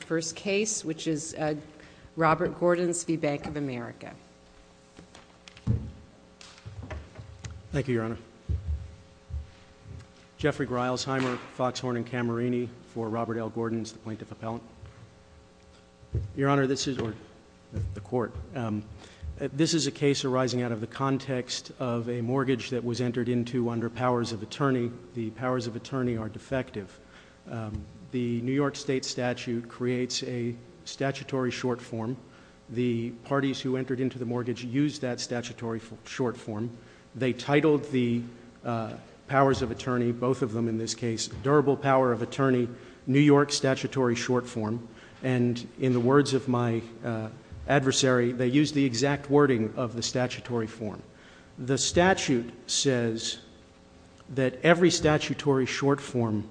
First case which is Robert Gordons v Bank of America. Thank you Your Honor. Jeffrey Gryalsheimer, Foxhorn & Camerini for Robert L Gordons, the plaintiff appellant. Your Honor this is, or the court, this is a case arising out of the context of a mortgage that was entered into under powers of attorney. The powers of attorney are defective. The New York State statute creates a statutory short form. The parties who entered into the mortgage used that statutory short form. They titled the powers of attorney, both of them in this case, durable power of attorney, New York statutory short form, and in the words of my adversary they used the exact wording of the statutory form. The statute says that every statutory short form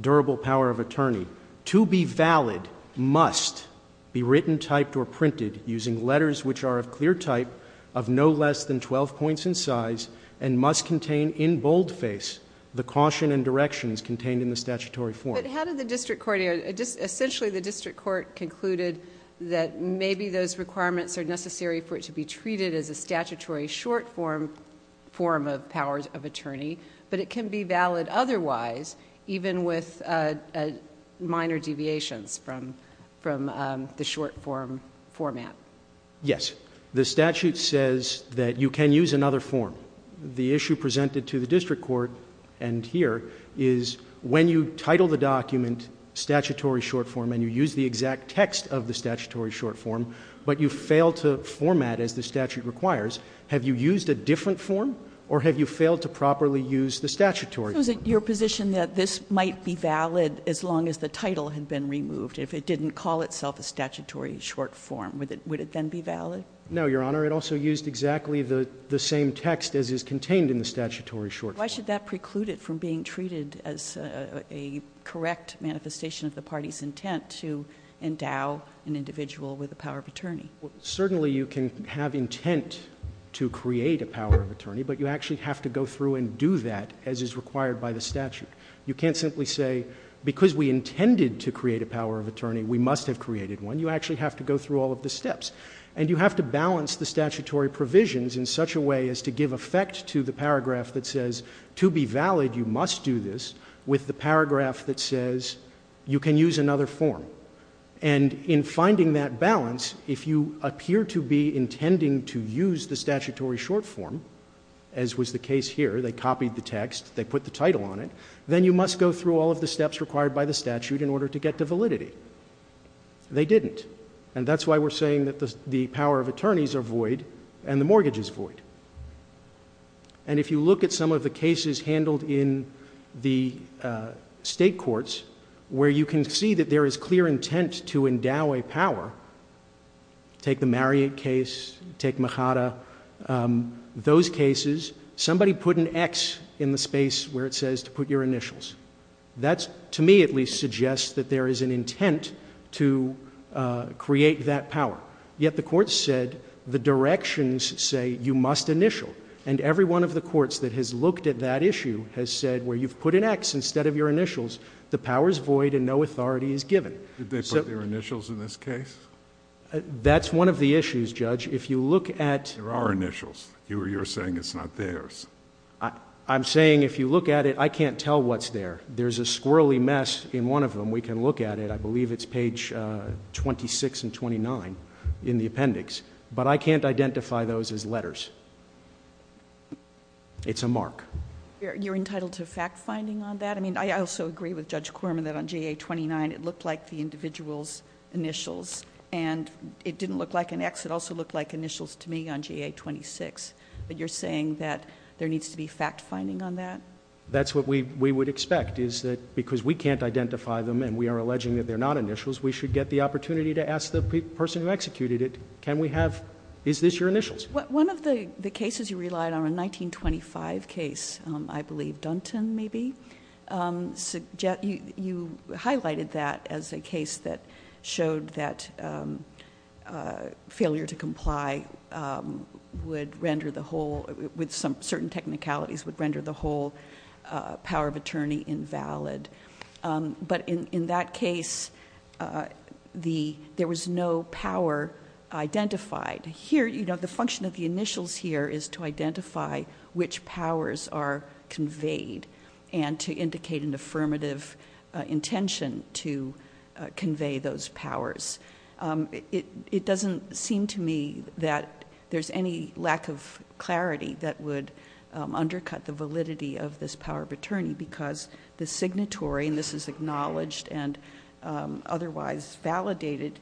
durable power of attorney to be valid must be written, typed, or printed using letters which are of clear type of no less than 12 points in size and must contain in bold face the caution and directions contained in the statutory form. But how did the district court, essentially the district court concluded that maybe those requirements are necessary for it to be treated as a statutory short form of powers of attorney, but it can be valid otherwise even with minor deviations from the short form format? Yes. The statute says that you can use another form. The issue presented to the district court and here is when you title the document statutory short form and you use the exact text of the statutory short form, but you fail to format as the statute requires, have you used a different form or have you failed to format? Your position that this might be valid as long as the title had been removed. If it didn't call itself a statutory short form, would it then be valid? No, Your Honor. It also used exactly the same text as is contained in the statutory short form. Why should that preclude it from being treated as a correct manifestation of the party's intent to endow an individual with the power of attorney? Certainly you can have intent to create a power of attorney, but you actually have to go through and do that as is required by the statute. You can't simply say because we intended to create a power of attorney, we must have created one. You actually have to go through all of the steps. And you have to balance the statutory provisions in such a way as to give effect to the paragraph that says to be valid, you must do this with the paragraph that says you can use another form. And in finding that balance, if you appear to be intending to use the statutory short form, as was the case here, they copied the text, they put the title on it, then you must go through all of the steps required by the statute in order to get to validity. They didn't. And that's why we're saying that the power of attorneys are void and the mortgage is void. And if you look at some of the cases handled in the state courts where you can see that there is clear intent to endow a power, take the Marriott case, take the Mercado, those cases, somebody put an X in the space where it says to put your initials. That, to me at least, suggests that there is an intent to create that power. Yet the courts said the directions say you must initial. And every one of the courts that has looked at that issue has said where you've put an X instead of your initials, the power is void and no authority is given. Did they put their initials in this case? That's one of the issues, Judge. If you look at... There are initials. You're saying it's not theirs. I'm saying if you look at it, I can't tell what's there. There's a squirrelly mess in one of them. We can look at it. I believe it's page 26 and 29 in the appendix. But I can't identify those as letters. It's a mark. You're entitled to fact finding on that? I also agree with Judge Quorman that on JA-29 it looked like the individual's initials. And it didn't look like an X. It also looked like initials to me on JA-26. But you're saying that there needs to be fact finding on that? That's what we would expect, is that because we can't identify them and we are alleging that they're not initials, we should get the opportunity to ask the person who executed it, can we have... is this your initials? One of the cases you relied on, a 1925 case, I believe Dunton maybe, you highlighted that as a case that showed that failure to comply would render the whole... with some certain technicalities would render the whole power of attorney invalid. But in that case, there was no power identified. Here, the function of the initials here is to identify which powers are conveyed and to indicate an affirmative intention to convey those powers. It doesn't seem to me that there's any lack of statutory, and this is acknowledged and otherwise validated,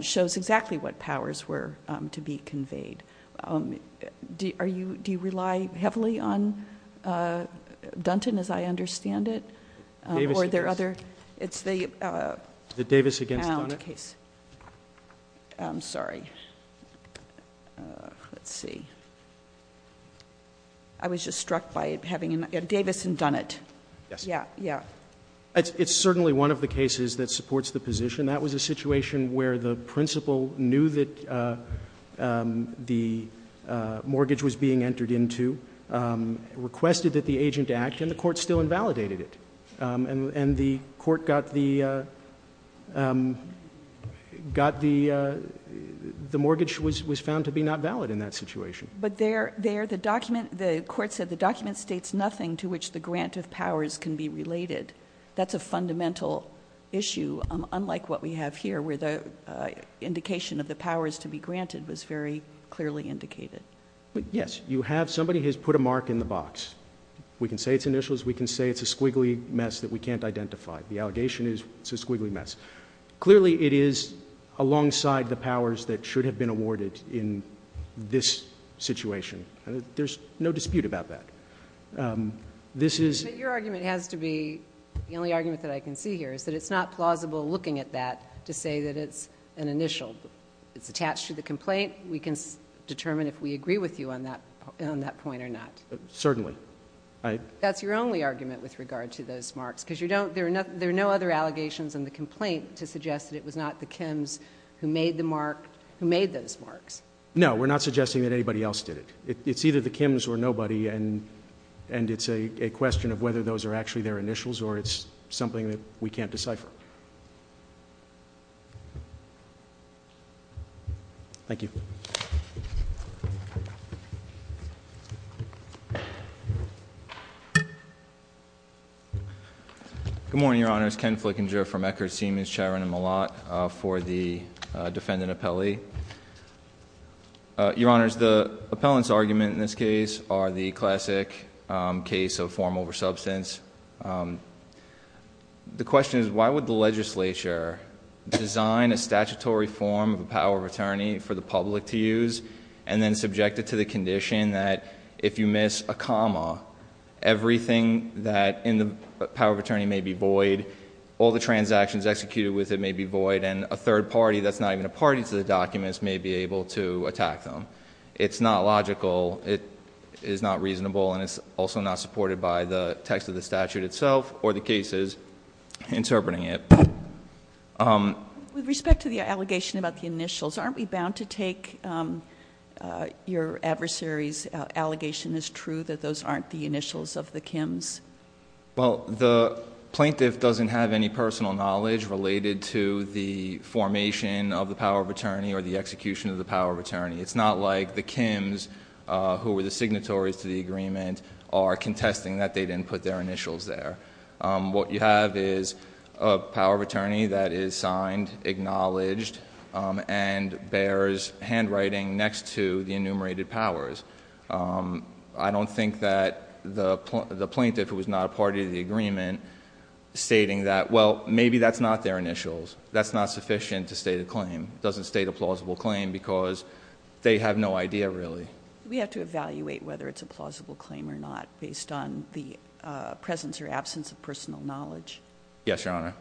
shows exactly what powers were to be conveyed. Do you rely heavily on Dunton, as I understand it, or are there other... The Davis against Dunnett? The Davis against Dunnett case. I'm sorry. Let's see. I was just struck by having Davis and Dunnett. Yes. Yeah. It's certainly one of the cases that supports the position. That was a situation where the principal knew that the mortgage was being entered into, requested that the agent act, and the court still invalidated it. And the court got the... the mortgage was found to be not valid in that situation. But there, the document... the court said the document states nothing to which the grant of powers can be related. That's a fundamental issue, unlike what we have here, where the indication of the powers to be granted was very clearly indicated. Yes. You have... somebody has put a mark in the box. We can say it's initials. We can say it's a squiggly mess that we can't identify. The allegation is it's a squiggly mess. Clearly, it is alongside the powers that should have been awarded in this situation. There's no dispute about that. This is... But your argument has to be... the only argument that I can see here is that it's not plausible, looking at that, to say that it's an initial. It's attached to the complaint. We can determine if we agree with you on that point or not. Certainly. That's your only argument with regard to those marks, because you don't... there are no other allegations in the complaint to suggest that it was not the Kims who made those marks. No. We're not suggesting that anybody else did it. It's either the Kims or nobody, and it's a question of whether those are actually their initials, or it's something that we can't decipher. Thank you. Good morning, Your Honors. Ken Flickinger from Eckerd, Siemens, Chiron, and Malott for the defendant appellee. Your Honors, the appellant's arguments in this case are the classic case of form over substance. The question is, why would the legislature design a statutory form of a power of attorney for the public to use, and then subject it to the condition that if you miss a comma, everything that in the power of attorney may be void, all the transactions executed with it may be void, and a third party that's not even a party to the documents may be able to attack them? It's not logical. It is not reasonable, and it's also not supported by the text of the statute itself or the cases interpreting it. With respect to the allegation about the initials, aren't we bound to take your adversary's allegation as true that those aren't the initials of the Kims? Well, the plaintiff doesn't have any personal knowledge related to the formation of the power of attorney or the execution of the power of attorney. It's not like the Kims, who were the signatories to the agreement, are contesting that they didn't put their initials there. What you have is a power of attorney that is signed, acknowledged, and bears handwriting next to the enumerated powers. I don't think that the plaintiff, who was not a party to the agreement, stating that, well, maybe that's not their initials. That's not sufficient to state a claim. It doesn't state a plausible claim because they have no idea, really. We have to evaluate whether it's a plausible claim or not based on the presence or absence of personal knowledge. Yes, Your Honor.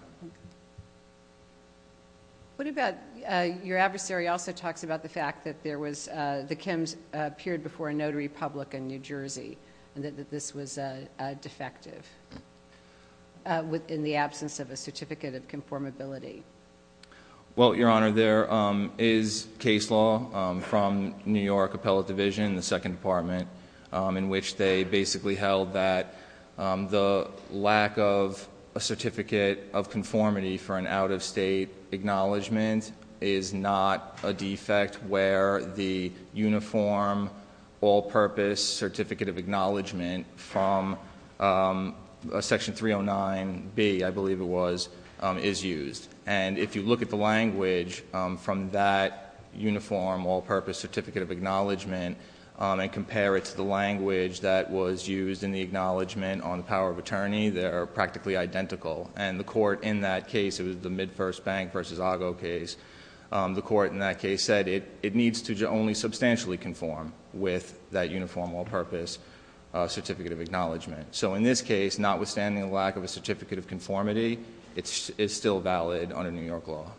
What about your adversary also talks about the fact that the Kims appeared before a notary public in New Jersey and that this was defective in the absence of a certificate of conformability? Well, Your Honor, there is case law from New York Appellate Division, the Second Department, in which they basically held that the lack of a certificate of conformity for an out-of-state acknowledgement is not a defect where the uniform, all-purpose certificate of acknowledgement from Section 309B, I believe it was, is used. And if you look at the language from that uniform, all-purpose certificate of acknowledgement and compare it to the language that was used in the acknowledgement on the power of attorney, they are practically identical. And the court in that case, it was the Midfirst Bank v. Ago case, the court in that case said it needs to only substantially conform with that uniform, all-purpose certificate of acknowledgement. So in this case, notwithstanding the lack of a certificate of conformity, it's still valid under New York law.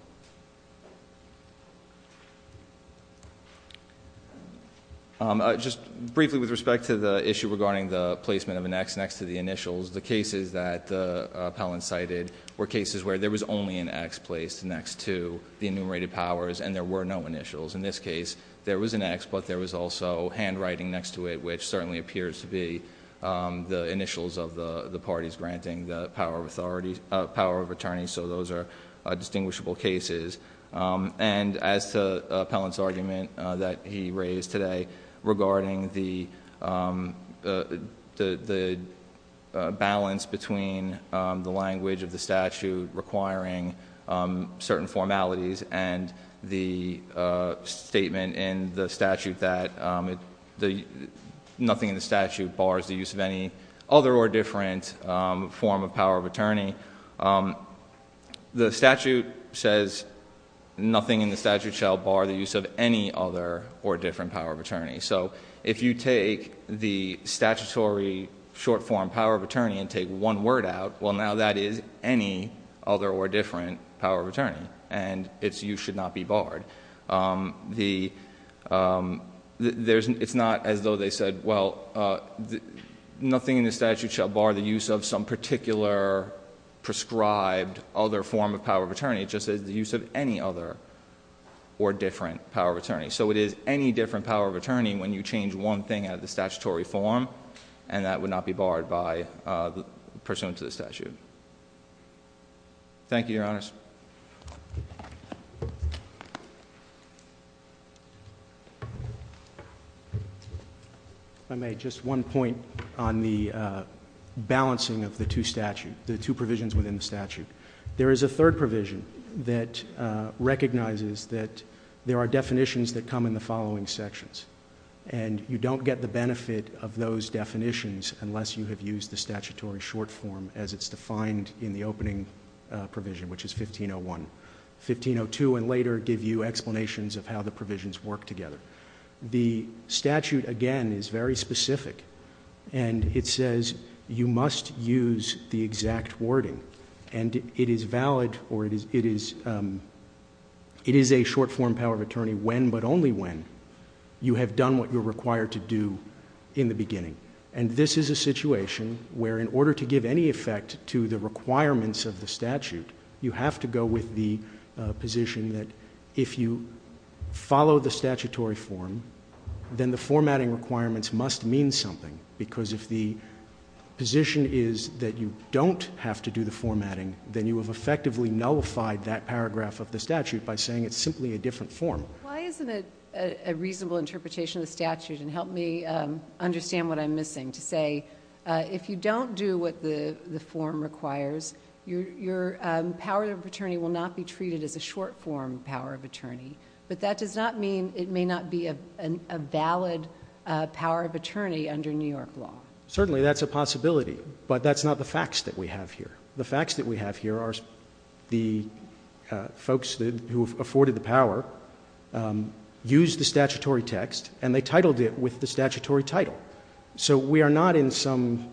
Just briefly with respect to the issue regarding the placement of an X next to the initials. The cases that Appellant cited were cases where there was only an X placed next to the enumerated powers and there were no initials. In this case, there was an X, but there was also handwriting next to it, which certainly appears to be the initials of the parties granting the power of attorney, so those are distinguishable cases. And as to Appellant's argument that he raised today, regarding the balance between the language of the statute requiring certain formalities and the statement in the statute that nothing in the statute bars the use of any other or different form of power of attorney. The statute says, nothing in the statute shall bar the use of any other or different power of attorney. So if you take the statutory short form power of attorney and take one word out, well now that is any other or different power of attorney. And it's you should not be barred. It's not as though they said, well, nothing in the statute shall bar the use of some particular prescribed other form of power of attorney, just as the use of any other or different power of attorney. So it is any different power of attorney when you change one thing out of the statutory form, and that would not be barred by, pursuant to the statute. Thank you, your honors. I made just one point on the balancing of the two statutes, the two provisions within the statute. There is a third provision that recognizes that there are definitions that come in the following sections. And you don't get the benefit of those definitions unless you have used the statutory short form as it's defined in the opening provision, which is 1501. 1502 and later give you explanations of how the provisions work together. The statute, again, is very specific. And it says you must use the exact wording. And it is valid, or it is a short form power of attorney when but only when you have done what you're required to do in the beginning. And this is a situation where in order to give any effect to the requirements of the statute, you have to go with the position that if you follow the statutory form, then the formatting requirements must mean something, because if the position is that you don't have to do the formatting, then you have effectively nullified that paragraph of the statute by saying it's simply a different form. Why isn't it a reasonable interpretation of the statute, and help me understand what I'm missing, to say if you don't do what the form requires, your power of attorney will not be treated as a short form power of attorney. But that does not mean it may not be a valid power of attorney under New York law. Certainly, that's a possibility, but that's not the facts that we have here. The facts that we have here are the folks who have afforded the power, used the statutory text, and they titled it with the statutory title. So we are not in some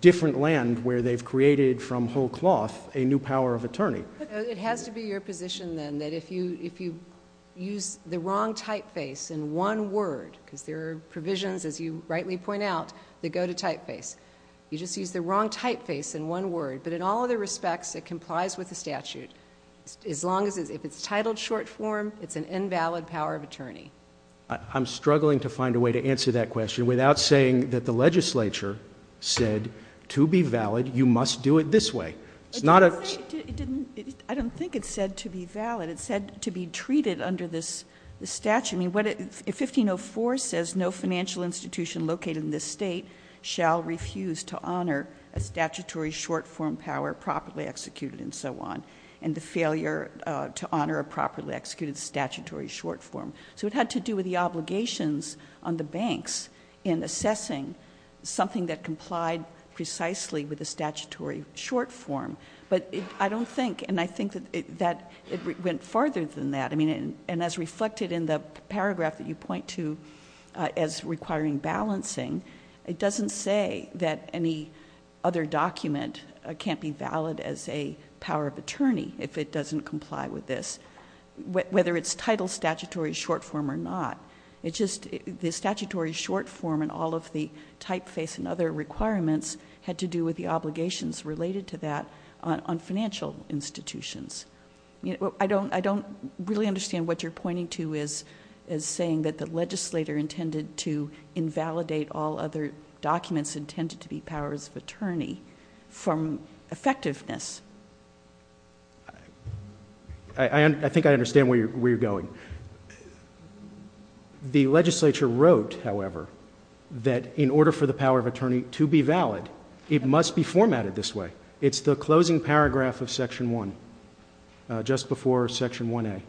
different land where they've created from whole cloth a new power of attorney. It has to be your position then that if you use the wrong typeface in one word, because there are provisions, as you rightly point out, that go to typeface. You just use the wrong typeface in one word, but in all other respects, it complies with the statute. As long as, if it's titled short form, it's an invalid power of attorney. I'm struggling to find a way to answer that question without saying that the legislature said to be valid, you must do it this way. It's not a- I don't think it's said to be valid. It's said to be treated under this statute. 1504 says no financial institution located in this state shall refuse to honor a statutory short form power properly executed and so on, and the failure to honor a properly executed statutory short form. So it had to do with the obligations on the banks in assessing something that complied precisely with the statutory short form. But I don't think, and I think that it went farther than that. And as reflected in the paragraph that you point to as requiring balancing, it doesn't say that any other document can't be valid as a power of attorney if it doesn't comply with this. Whether it's titled statutory short form or not, it's just the statutory short form and all of the typeface and other requirements had to do with the obligations related to that on financial institutions. I don't really understand what you're pointing to as saying that the legislator intended to invalidate all other documents intended to be powers of attorney from effectiveness. I think I understand where you're going. The legislature wrote, however, that in order for the power of attorney to be valid, it must be formatted this way. It's the closing paragraph of section one, just before section 1A.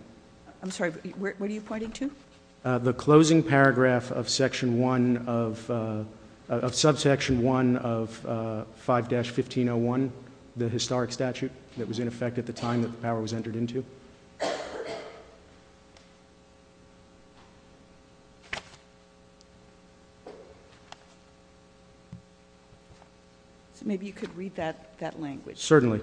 I'm sorry, what are you pointing to? The closing paragraph of section one of, of subsection one of 5-1501, the historic statute that was in effect at the time that the power was entered into. Thank you. So maybe you could read that language. Certainly.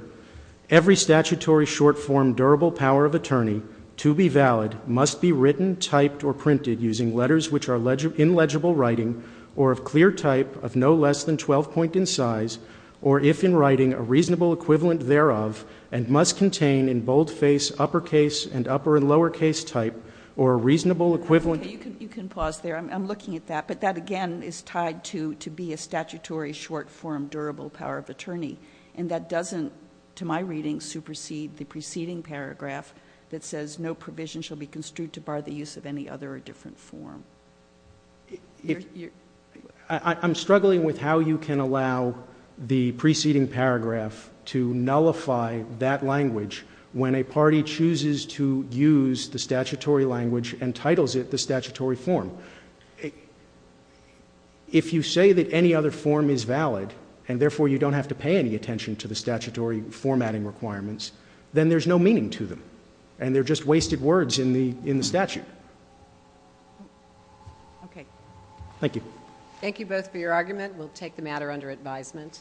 Every statutory short form durable power of attorney to be valid must be written, typed, or printed using letters which are in legible writing or of clear type of no less than 12 point in size. Or if in writing, a reasonable equivalent thereof and must contain in bold face uppercase and upper and lower case type or a reasonable equivalent. Okay, you can pause there. I'm looking at that, but that again is tied to be a statutory short form durable power of attorney. And that doesn't, to my reading, supersede the preceding paragraph that says no provision shall be construed to bar the use of any other or different form. I'm struggling with how you can allow the preceding paragraph to nullify that language when a party chooses to use the statutory language and titles it the statutory form. If you say that any other form is valid, and therefore you don't have to pay any attention to the statutory formatting requirements, then there's no meaning to them, and they're just wasted words in the statute. Okay. Thank you. Thank you both for your argument. We'll take the matter under advisement.